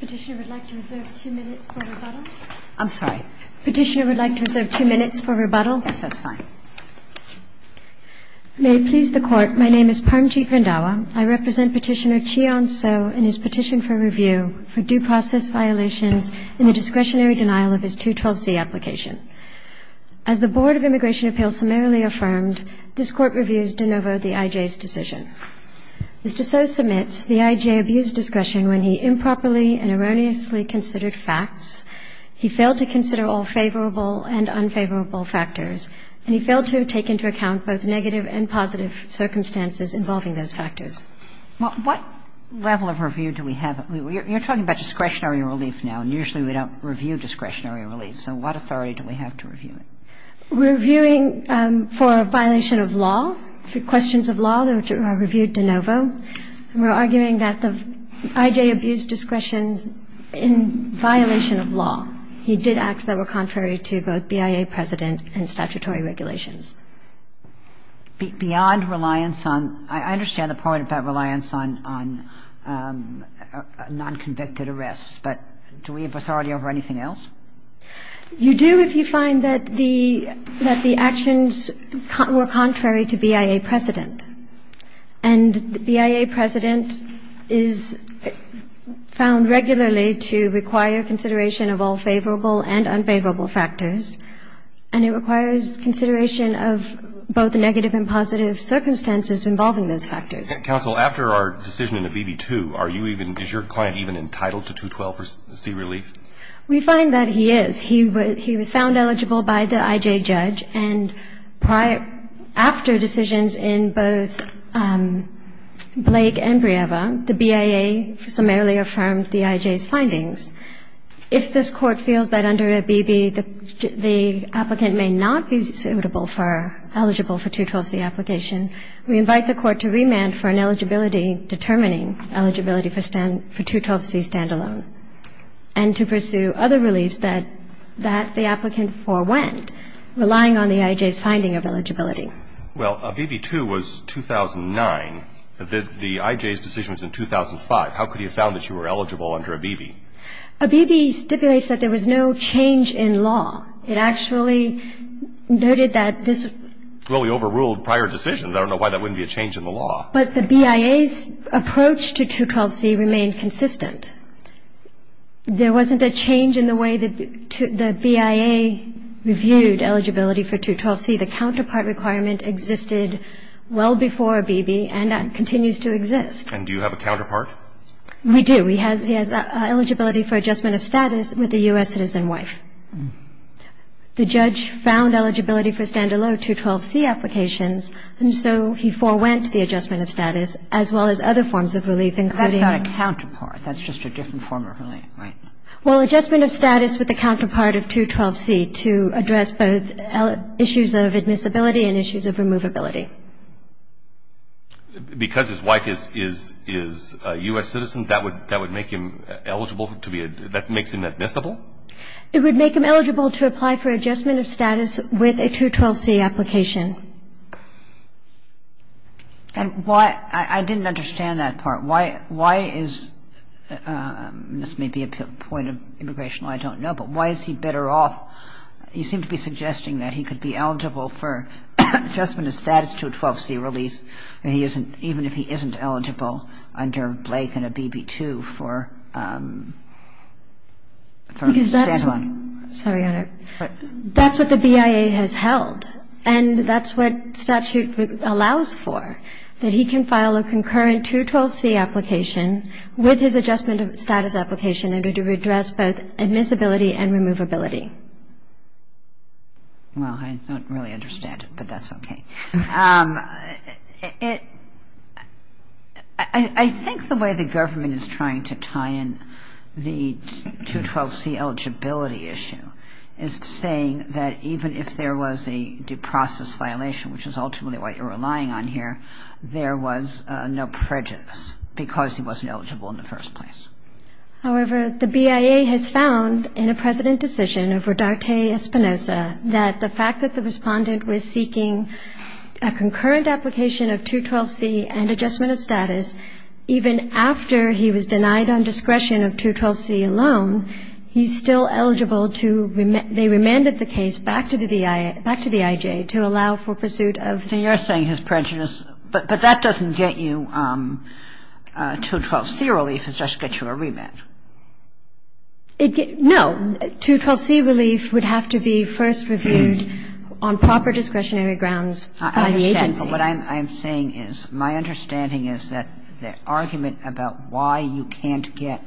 Petitioner would like to reserve two minutes for rebuttal. I'm sorry. Petitioner would like to reserve two minutes for rebuttal. Yes, that's fine. May it please the Court, my name is Parmjeet Randhawa. I represent Petitioner Cheon So in his petition for review for due process violations in the discretionary denial of his 212C application. As the Board of Immigration Appeals summarily affirmed, this Court reviews de novo the IJ's decision. Mr. So submits the IJ abused discretion when he improperly and erroneously considered facts, he failed to consider all favorable and unfavorable factors, and he failed to take into account both negative and positive circumstances involving those factors. Well, what level of review do we have? You're talking about discretionary relief now, and usually we don't review discretionary relief. So what authority do we have to review it? We're reviewing for a violation of law, for questions of law that are reviewed de novo. We're arguing that the IJ abused discretion in violation of law. He did acts that were contrary to both BIA precedent and statutory regulations. Beyond reliance on – I understand the point about reliance on nonconvicted arrests, but do we have authority over anything else? You do if you find that the actions were contrary to BIA precedent. And BIA precedent is found regularly to require consideration of all favorable and unfavorable factors, and it requires consideration of both negative and positive circumstances involving those factors. Counsel, after our decision in the BB2, are you even – is your client even entitled to 212C relief? We find that he is. He was found eligible by the IJ judge, and after decisions in both Blake and Brieva, the BIA summarily affirmed the IJ's findings. If this Court feels that under a BB, the applicant may not be suitable for – eligible for 212C application, we invite the Court to remand for an eligibility determining eligibility for 212C standalone, and to pursue other reliefs that the applicant forewent, relying on the IJ's finding of eligibility. Well, a BB2 was 2009. The IJ's decision was in 2005. How could he have found that you were eligible under a BB? A BB stipulates that there was no change in law. It actually noted that this – Well, we overruled prior decisions. I don't know why that wouldn't be a change in the law. But the BIA's approach to 212C remained consistent. There wasn't a change in the way the BIA reviewed eligibility for 212C. The counterpart requirement existed well before a BB and continues to exist. And do you have a counterpart? We do. He has eligibility for adjustment of status with a U.S. citizen wife. The judge found eligibility for standalone 212C applications, and so he forewent the adjustment of status, as well as other forms of relief, including – But that's not a counterpart. That's just a different form of relief, right? Well, adjustment of status with a counterpart of 212C to address both issues of admissibility and issues of removability. Because his wife is a U.S. citizen, that would make him eligible to be – that makes him admissible? It would make him eligible to apply for adjustment of status with a 212C application. And why – I didn't understand that part. Why is – this may be a point of immigration I don't know, but why is he better off – you seem to be suggesting that he could be eligible for adjustment of status to a 212C release even if he isn't eligible under Blake and a BB2 for a standalone? Because that's what – sorry, Your Honor. That's what the BIA has held. And that's what statute allows for, that he can file a concurrent 212C application with his adjustment of status application in order to address both admissibility and removability. Well, I don't really understand it, but that's okay. It – I think the way the government is trying to tie in the 212C eligibility issue is saying that even if there was a due process violation, which is ultimately what you're relying on here, there was no prejudice because he wasn't eligible in the first place. However, the BIA has found in a precedent decision of Rodarte Espinosa that the fact that the respondent was seeking a concurrent application of 212C and adjustment of status even after he was denied on discretion of 212C alone, he's still eligible to – they remanded the case back to the IA – back to the IJ to allow for pursuit of – So you're saying his prejudice – but that doesn't get you 212C relief. It just gets you a remand. No. 212C relief would have to be first reviewed on proper discretionary grounds by the agency. I understand. But what I'm saying is my understanding is that the argument about why you can't get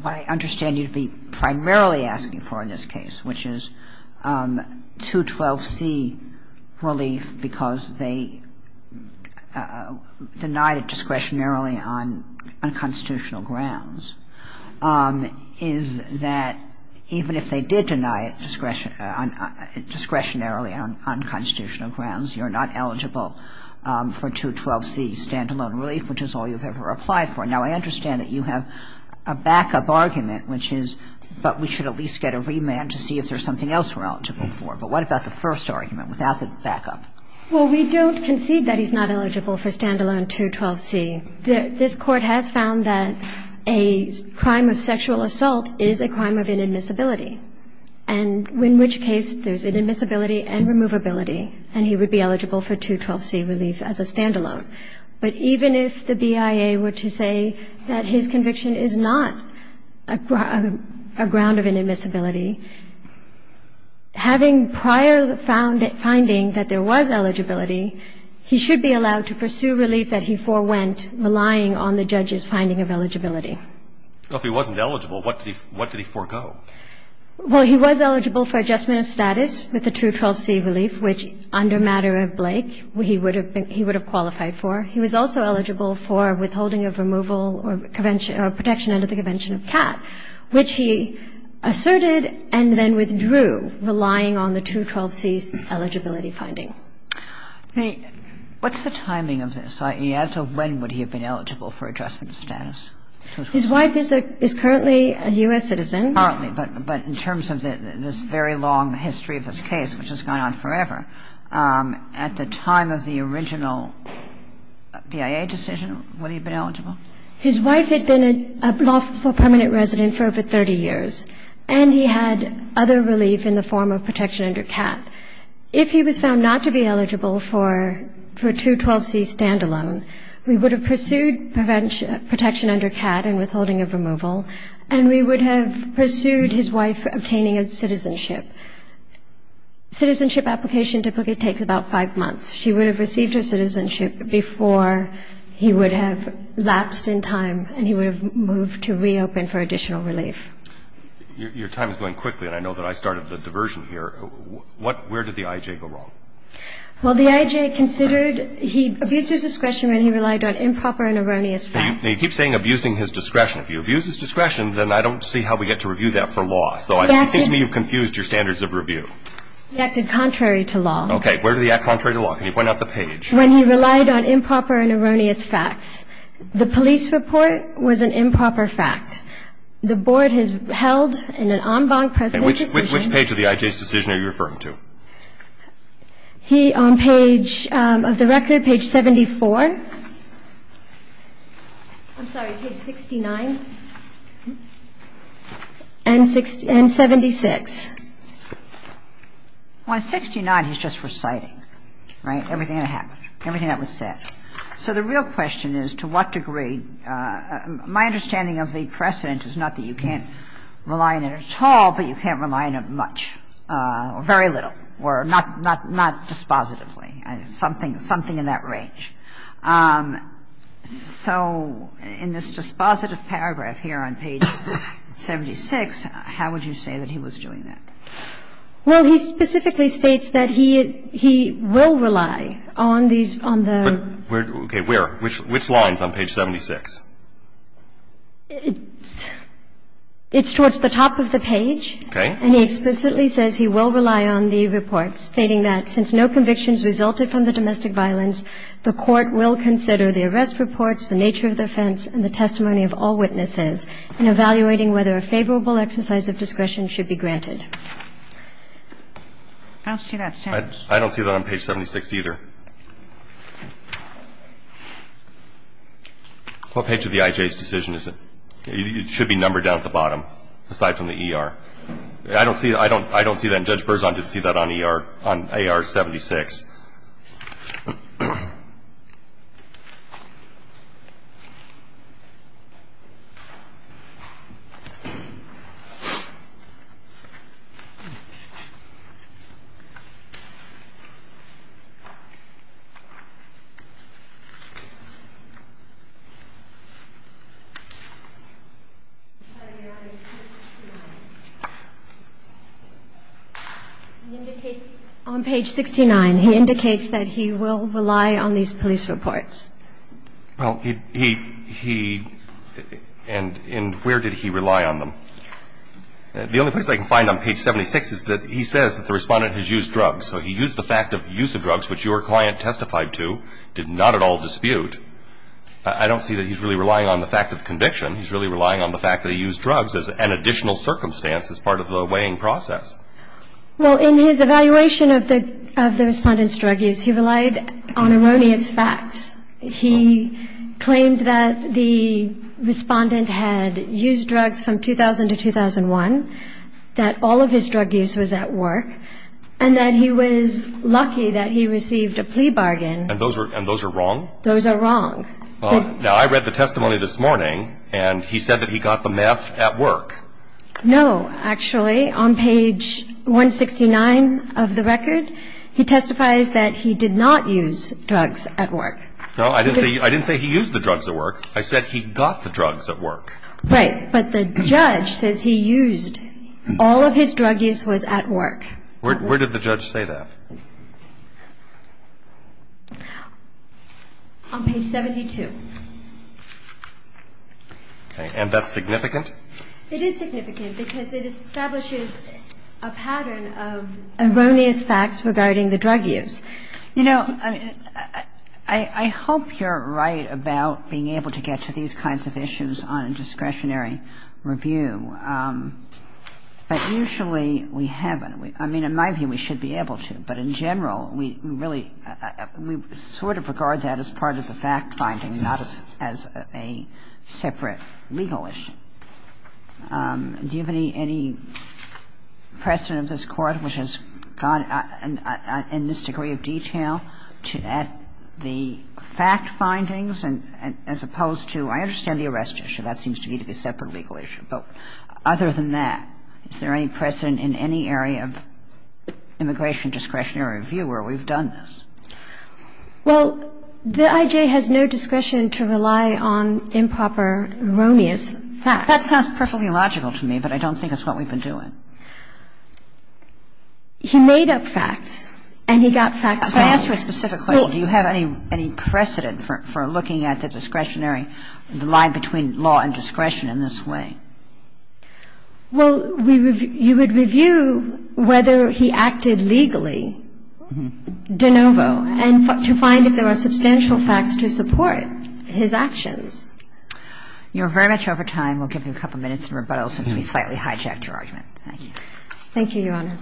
what I understand you to be primarily asking for in this case, which is 212C relief because they denied it discretionarily on unconstitutional grounds, is that even if they did deny it discretionarily on unconstitutional grounds, you're not eligible for 212C stand-alone relief, which is all you've ever applied for. Now, I understand that you have a backup argument, which is, but we should at least get a remand to see if there's something else we're eligible for. But what about the first argument without the backup? Well, we don't concede that he's not eligible for stand-alone 212C. This Court has found that a crime of sexual assault is a crime of inadmissibility, and in which case there's inadmissibility and removability, and he would be eligible for 212C relief as a stand-alone. But even if the BIA were to say that his conviction is not a ground of inadmissibility, having prior finding that there was eligibility, he should be allowed to pursue relief that he forewent relying on the judge's finding of eligibility. Well, if he wasn't eligible, what did he forego? Well, he was eligible for adjustment of status with the 212C relief, which, under matter of Blake, he would have qualified for. He was also eligible for withholding of removal or protection under the Convention of CAT, which he asserted and then withdrew relying on the 212C's eligibility finding. What's the timing of this? I mean, as of when would he have been eligible for adjustment of status? His wife is currently a U.S. citizen. Currently. But in terms of this very long history of this case, which has gone on forever, at the time of the original BIA decision, would he have been eligible? His wife had been a lawful permanent resident for over 30 years, and he had other relief in the form of protection under CAT. If he was found not to be eligible for 212C stand-alone, we would have pursued protection under CAT and withholding of removal, and we would have pursued his wife obtaining a citizenship. Citizenship application typically takes about five months. She would have received her citizenship before he would have lapsed in time and he would have moved to reopen for additional relief. Your time is going quickly, and I know that I started the diversion here. Where did the I.J. go wrong? Well, the I.J. considered he abused his discretion when he relied on improper and erroneous facts. Now, you keep saying abusing his discretion. If he abuses discretion, then I don't see how we get to review that for law. So it seems to me you've confused your standards of review. He acted contrary to law. Okay. Where did he act contrary to law? Can you point out the page? When he relied on improper and erroneous facts. The police report was an improper fact. The Board has held in an en banc precedent decision. Which page of the I.J.'s decision are you referring to? He, on page of the record, page 74. I'm sorry, page 69 and 76. On 69, he's just reciting, right, everything that happened, everything that was said. So the real question is to what degree my understanding of the precedent is not that you can't rely on it at all, but you can't rely on it much, or very little, or not dispositively. Something in that range. So in this dispositive paragraph here on page 76, how would you say that he was doing that? Well, he specifically states that he will rely on these, on the. Okay. Where? Which line is on page 76? It's towards the top of the page. Okay. And he explicitly says he will rely on the report, stating that since no convictions resulted from the domestic violence, the Court will consider the arrest reports, the nature of the offense, and the testimony of all witnesses in evaluating whether a favorable exercise of discretion should be granted. I don't see that sentence. I don't see that on page 76 either. What page of the I.J.'s decision is it? It should be numbered down at the bottom, aside from the ER. I don't see that. And Judge Berzon did see that on AR 76. Okay. On page 69, he indicates that he will rely on these police reports. Well, he, and where did he rely on them? The only place I can find on page 76 is that he says that the Respondent has used drugs. So he used the fact of use of drugs, which your client testified to, did not at all dispute. I don't see that he's really relying on the fact of conviction. He's really relying on the fact that he used drugs as an additional circumstance as part of the weighing process. Well, in his evaluation of the Respondent's drug use, he relied on erroneous facts. He claimed that the Respondent had used drugs from 2000 to 2001, that all of his drug use was at work, and that he was lucky that he received a plea bargain. And those are wrong? Those are wrong. Now, I read the testimony this morning, and he said that he got the meth at work. No, actually. On page 169 of the record, he testifies that he did not use drugs at work. No, I didn't say he used the drugs at work. I said he got the drugs at work. Right. But the judge says he used. All of his drug use was at work. Where did the judge say that? On page 72. Okay. And that's significant? It is significant because it establishes a pattern of erroneous facts regarding the drug use. You know, I hope you're right about being able to get to these kinds of issues on a discretionary review. But usually we haven't. I mean, in my view, we should be able to. But in general, we really sort of regard that as part of the fact-finding, not as a separate legal issue. Do you have any precedent of this Court which has gone in this degree of detail to add the fact findings as opposed to the arrest issue? That seems to me to be a separate legal issue. But other than that, is there any precedent in any area of immigration discretionary review where we've done this? Well, the I.J. has no discretion to rely on improper, erroneous facts. That sounds perfectly logical to me, but I don't think it's what we've been doing. He made up facts, and he got facts wrong. I ask you specifically, do you have any precedent for looking at the discretionary line between law and discretion in this way? Well, you would review whether he acted legally de novo and to find if there are substantial facts to support his actions. You're very much over time. We'll give you a couple minutes in rebuttal since we slightly hijacked your argument. Thank you. Thank you, Your Honor.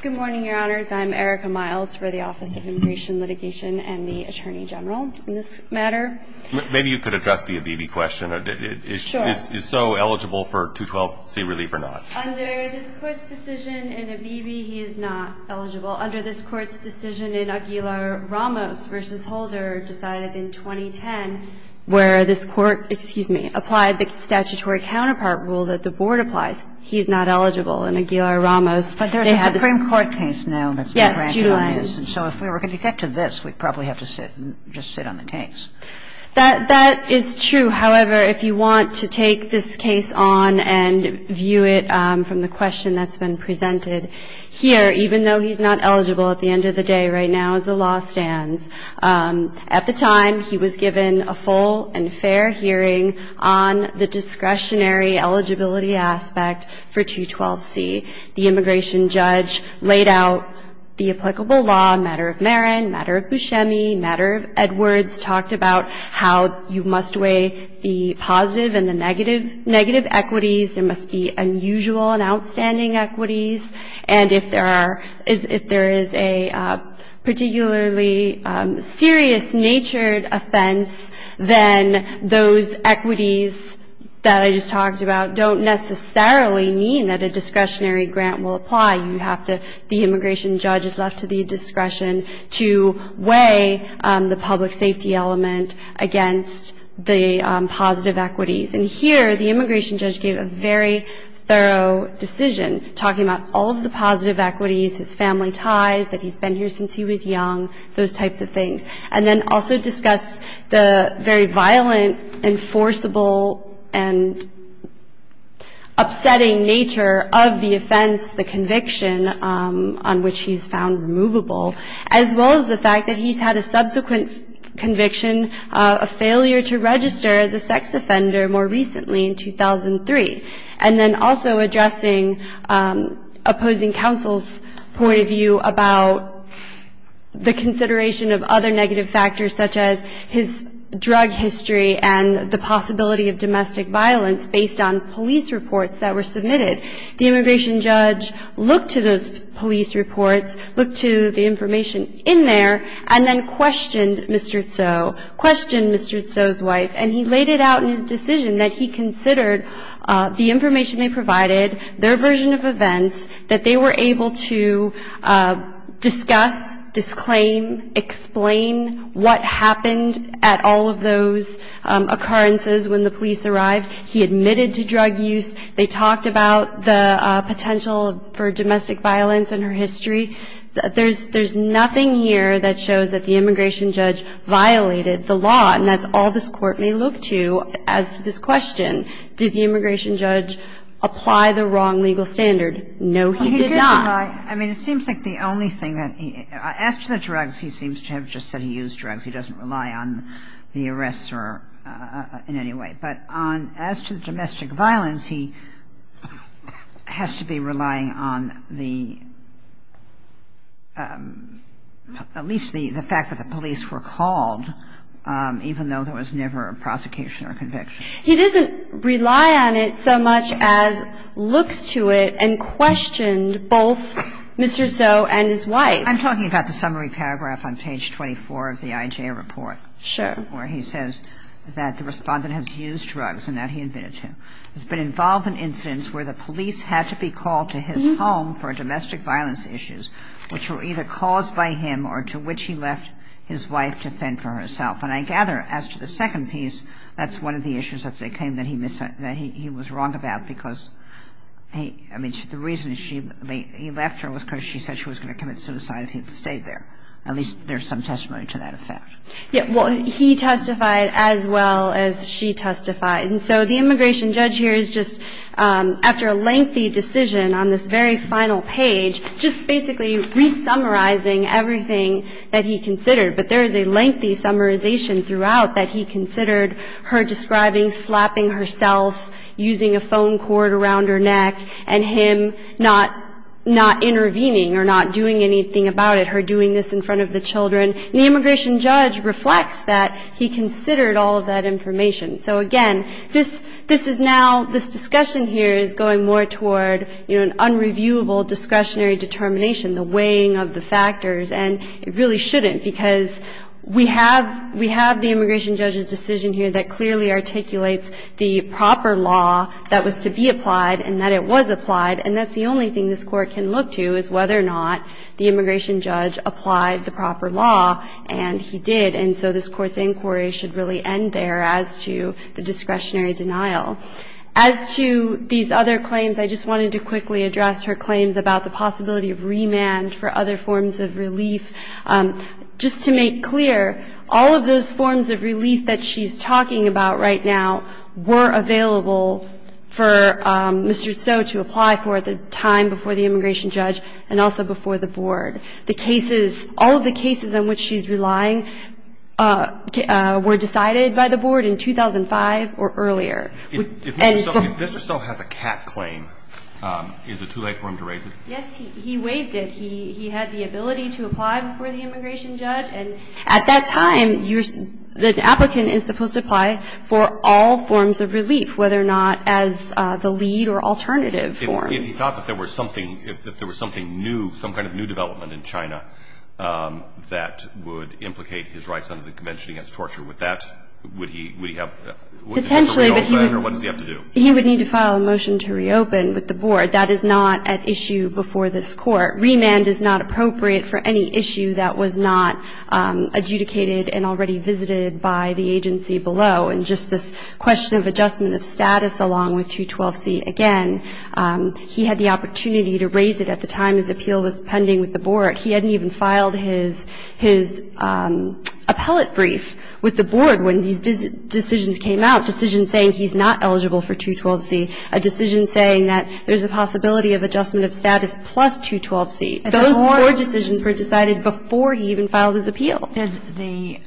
Good morning, Your Honors. I'm Erika Miles for the Office of Immigration Litigation and the Attorney General in this matter. Maybe you could address the Abebe question. Sure. Is so eligible for 212C relief or not? Under this Court's decision in Abebe, he is not eligible. Under this Court's decision in Aguilar-Ramos v. Holder decided in 2010 where this Court, excuse me, applied the statutory counterpart rule that the Board applies, he is not eligible. And the Board was not able to apply this rule. And if you go to the case file in the case file in Aguilar-Ramos, they have this. But there is a Supreme Court case now that's been ranked on this. Yes, July. And so if we were going to get to this, we'd probably have to sit and just sit on the case. That is true. However, if you want to take this case on and view it from the question that's been presented here, even though he's not eligible at the end of the day right now as the law stands. At the time, he was given a full and fair hearing on the discretionary eligibility aspect for 212C. The immigration judge laid out the applicable law, matter of Marin, matter of Buscemi, matter of Edwards, talked about how you must weigh the positive and the negative equities. There must be unusual and outstanding equities. And if there is a particularly serious-natured offense, then those equities that I just talked about don't necessarily mean that a discretionary grant will apply. The immigration judge is left to the discretion to weigh the public safety element against the positive equities. And here, the immigration judge gave a very thorough decision, talking about all of the positive equities, his family ties, that he's been here since he was young, those types of things, and then also discussed the very violent, enforceable, and upsetting nature of the offense, the conviction on which he's found removable, as well as the fact that he's had a subsequent conviction, a failure to register as a sex offender more recently in 2003, and then also addressing opposing counsel's point of view about the consideration of other negative factors, such as his drug history and the possibility of domestic violence based on police reports that were submitted. The immigration judge looked to those police reports, looked to the information in there, and then questioned Mr. Tso, questioned Mr. Tso's wife, and he laid it out in his decision that he considered the information they provided, their version of events, that they were able to discuss, disclaim, explain what happened at all of those occurrences when the police arrived. He admitted to drug use. They talked about the potential for domestic violence and her history. There's nothing here that shows that the immigration judge violated the law, and that's all this Court may look to as to this question. Did the immigration judge apply the wrong legal standard? No, he did not. He did not. I mean, it seems like the only thing that he – as to the drugs, he seems to have just said he used drugs. He doesn't rely on the arrestor in any way. But on – as to the domestic violence, he has to be relying on the – at least the fact that the police were called, even though there was never a prosecution or conviction. He doesn't rely on it so much as looks to it and questioned both Mr. Tso and his wife. I'm talking about the summary paragraph on page 24 of the IJ report. Sure. Where he says that the respondent has used drugs and that he admitted to. He's been involved in incidents where the police had to be called to his home for domestic violence issues, which were either caused by him or to which he left his wife to fend for herself. And I gather, as to the second piece, that's one of the issues that they claim that he was wrong about because he – I mean, the reason he left her was because she said she was going to commit suicide if he had stayed there. At least there's some testimony to that effect. Yeah. Well, he testified as well as she testified. And so the immigration judge here is just, after a lengthy decision on this very final page, just basically re-summarizing everything that he considered. But there is a lengthy summarization throughout that he considered her describing slapping herself, using a phone cord around her neck, and him not intervening or not doing anything about it, her doing this in front of the children. And the immigration judge reflects that he considered all of that information. So, again, this is now – this discussion here is going more toward, you know, an unreviewable discretionary determination, the weighing of the factors. And it really shouldn't because we have – we have the immigration judge's decision here that clearly articulates the proper law that was to be applied and that it was applied. And that's the only thing this Court can look to is whether or not the immigration judge applied the proper law, and he did. And so this Court's inquiry should really end there as to the discretionary denial. As to these other claims, I just wanted to quickly address her claims about the possibility of remand for other forms of relief. Just to make clear, all of those forms of relief that she's talking about right now were available for Mr. Tso to apply for at the time before the immigration judge and also before the board. The cases – all of the cases on which she's relying were decided by the board in 2005 or earlier. If Mr. Tso has a cat claim, is it too late for him to raise it? Yes, he waived it. He had the ability to apply before the immigration judge. And at that time, you're – the applicant is supposed to apply for all forms of relief, whether or not as the lead or alternative forms. If he thought that there was something – if there was something new, some kind of new development in China that would implicate his rights under the Convention against Torture, would that – would he have to reopen or what does he have to do? He would need to file a motion to reopen with the board. That is not at issue before this Court. Remand is not appropriate for any issue that was not adjudicated and already visited by the agency below. And just this question of adjustment of status along with 212C, again, he had the opportunity to raise it at the time his appeal was pending with the board. He hadn't even filed his appellate brief with the board when these decisions came out, decisions saying he's not eligible for 212C, a decision saying that there's a possibility of adjustment of status plus 212C. Those four decisions were decided before he even filed his appeal. And the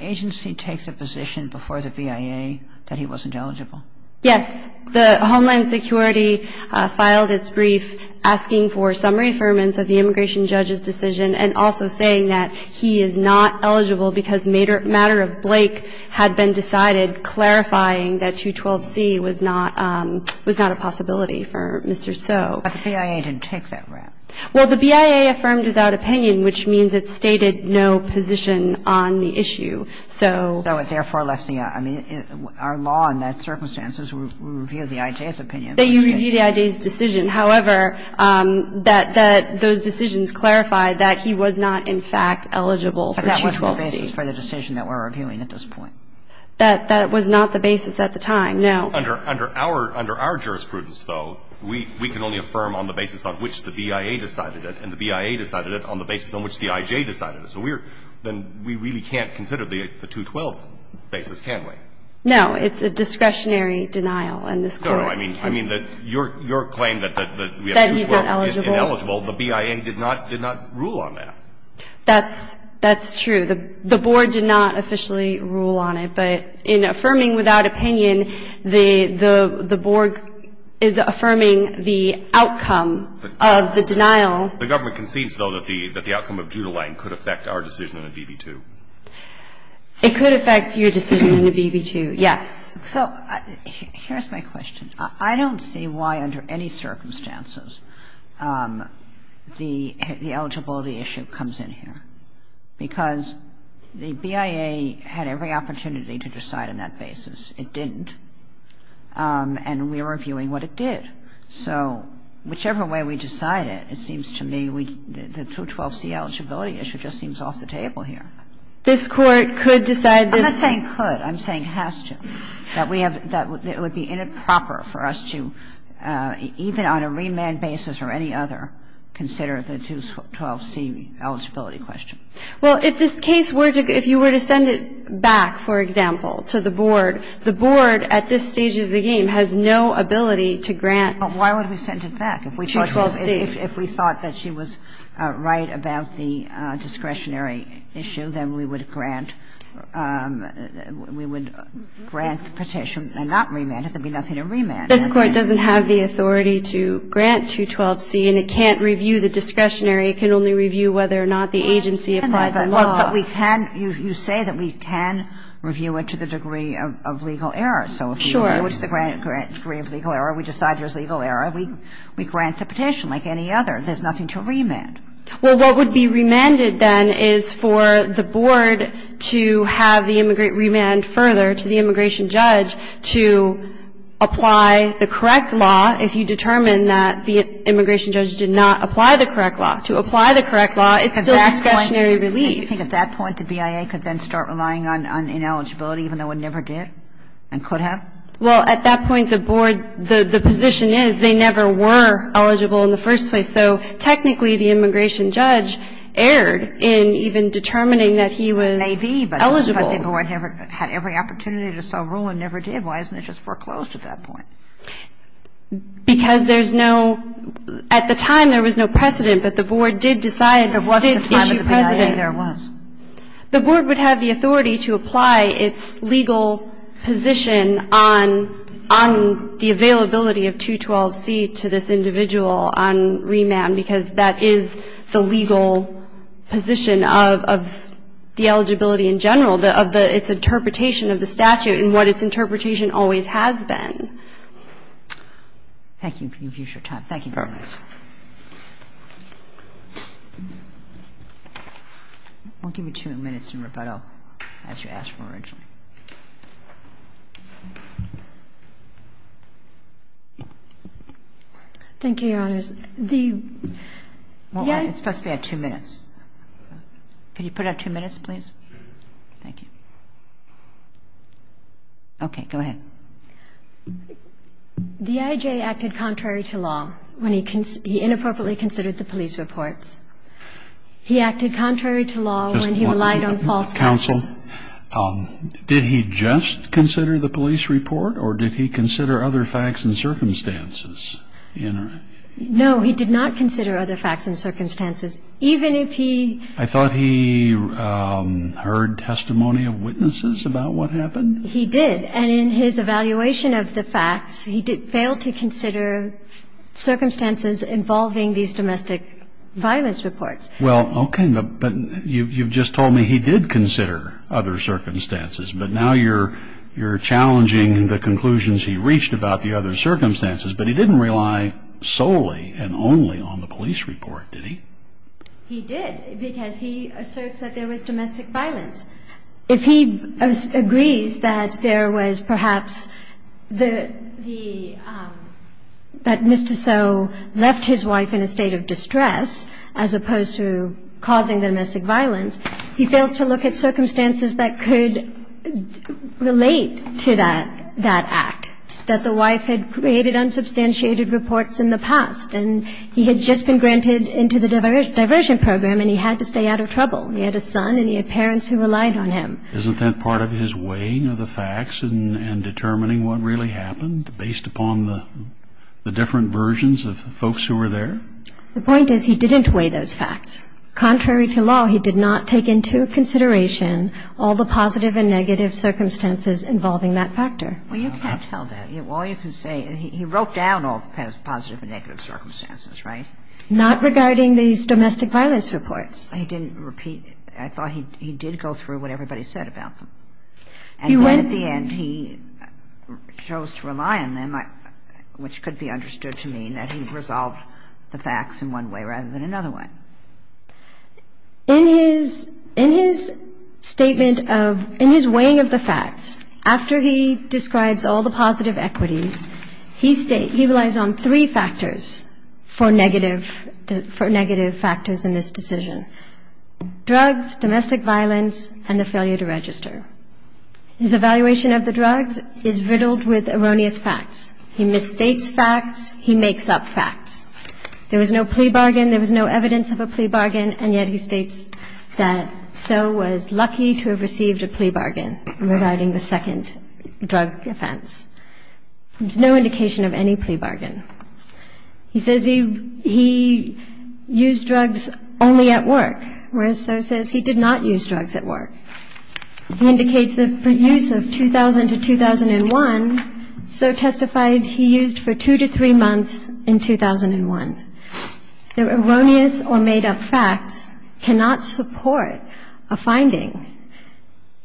agency takes a position before the BIA that he wasn't eligible? Yes. The Homeland Security filed its brief asking for summary affirmance of the immigration judge's decision and also saying that he is not eligible because matter of Blake had been decided clarifying that 212C was not, was not a possibility for Mr. So. But the BIA didn't take that rap. Well, the BIA affirmed without opinion, which means it stated no position on the issue. So. So it therefore left the, I mean, our law in that circumstance is we review the I.J.'s opinion. That you review the I.J.'s decision. But that wasn't the basis for the decision that we're reviewing at this point. That was not the basis at the time, no. Under our jurisprudence, though, we can only affirm on the basis on which the BIA decided it and the BIA decided it on the basis on which the I.J. decided it. So we're, then we really can't consider the 212 basis, can we? No, it's a discretionary denial in this court. No, no, I mean that your claim that we have 212. That he's not eligible. Ineligible, the BIA did not rule on that. That's true. The board did not officially rule on it. But in affirming without opinion, the board is affirming the outcome of the denial. The government concedes, though, that the outcome of Judelang could affect our decision on the BB-2. It could affect your decision on the BB-2, yes. So here's my question. I don't see why under any circumstances the eligibility issue comes in here. Because the BIA had every opportunity to decide on that basis. It didn't. And we're reviewing what it did. So whichever way we decide it, it seems to me the 212C eligibility issue just seems off the table here. This Court could decide this. I'm not saying could. I'm saying has to. I'm saying that we have to. That it would be inappropriate for us to, even on a remand basis or any other, consider the 212C eligibility question. Well, if this case were to go, if you were to send it back, for example, to the board, the board at this stage of the game has no ability to grant 212C. Well, why would we send it back? If we thought that she was right about the discretionary issue, then we would grant the petition and not remand it. There would be nothing to remand it. This Court doesn't have the authority to grant 212C, and it can't review the discretionary. It can only review whether or not the agency applied the law. Well, but we can. You say that we can review it to the degree of legal error. So if we review it to the degree of legal error, we decide there's legal error, we grant the petition like any other. There's nothing to remand. Well, what would be remanded then is for the board to have the remand further to the immigration judge to apply the correct law if you determine that the immigration judge did not apply the correct law. To apply the correct law, it's still discretionary relief. Do you think at that point the BIA could then start relying on ineligibility, even though it never did and could have? Well, at that point, the board, the position is they never were eligible in the first place. So technically, the immigration judge erred in even determining that he was eligible. Maybe, but the board had every opportunity to sell rule and never did. Why isn't it just foreclosed at that point? Because there's no – at the time, there was no precedent, but the board did decide, did issue precedent. But what's the time of the BIA there was? The board would have the authority to apply its legal position on the availability of 212C to this individual on remand, because that is the legal position of the eligibility in general, of the – its interpretation of the statute and what its interpretation always has been. Thank you for your time. Thank you very much. I won't give you two minutes to rebuttal. That's what you asked for originally. Thank you, Your Honors. The – Well, it's supposed to be at two minutes. Can you put it at two minutes, please? Thank you. Okay. Go ahead. The I.J. acted contrary to law when he – he inappropriately considered the police reports. He acted contrary to law when he relied on false counsel. Did he just consider the police report, or did he consider other facts and circumstances? No, he did not consider other facts and circumstances. Even if he – I thought he heard testimony of witnesses about what happened. He did, and in his evaluation of the facts, he failed to consider circumstances involving these domestic violence reports. Well, okay, but you've just told me he did consider other circumstances, but now you're challenging the conclusions he reached about the other circumstances. But he didn't rely solely and only on the police report, did he? He did, because he asserts that there was domestic violence. If he agrees that there was perhaps the – that Mr. Soe left his wife in a state of distress, as opposed to causing domestic violence, he fails to look at circumstances that could relate to that act, that the wife had created unsubstantiated reports in the past, and he had just been granted into the diversion program, and he had to stay out of trouble. He had a son, and he had parents who relied on him. Isn't that part of his weighing of the facts and determining what really happened, based upon the different versions of folks who were there? The point is he didn't weigh those facts. Contrary to law, he did not take into consideration all the positive and negative circumstances involving that factor. Well, you can't tell that. All you can say – he wrote down all the positive and negative circumstances, right? Not regarding these domestic violence reports. He didn't repeat – I thought he did go through what everybody said about them. And then at the end he chose to rely on them, which could be understood to mean that he resolved the facts in one way rather than another way. In his statement of – in his weighing of the facts, after he describes all the positive equities, he relies on three factors for negative factors in this decision. Drugs, domestic violence, and the failure to register. His evaluation of the drugs is riddled with erroneous facts. He mistakes facts, he makes up facts. There was no plea bargain, there was no evidence of a plea bargain, and yet he states that Soe was lucky to have received a plea bargain regarding the second drug offense. There's no indication of any plea bargain. He says he used drugs only at work, whereas Soe says he did not use drugs at work. He indicates a use of 2000 to 2001. Soe testified he used for two to three months in 2001. The erroneous or made-up facts cannot support a finding.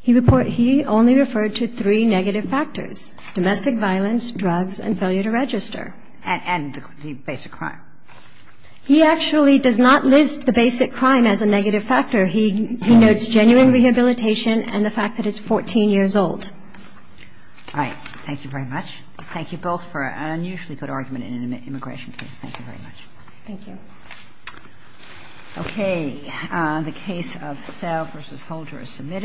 He only referred to three negative factors, domestic violence, drugs, and failure to register. And the basic crime. He actually does not list the basic crime as a negative factor. He notes genuine rehabilitation and the fact that it's 14 years old. All right. Thank you very much. Thank you both for an unusually good argument in an immigration case. Thank you very much. Thank you. Okay. The case of Sell v. Holder is submitted.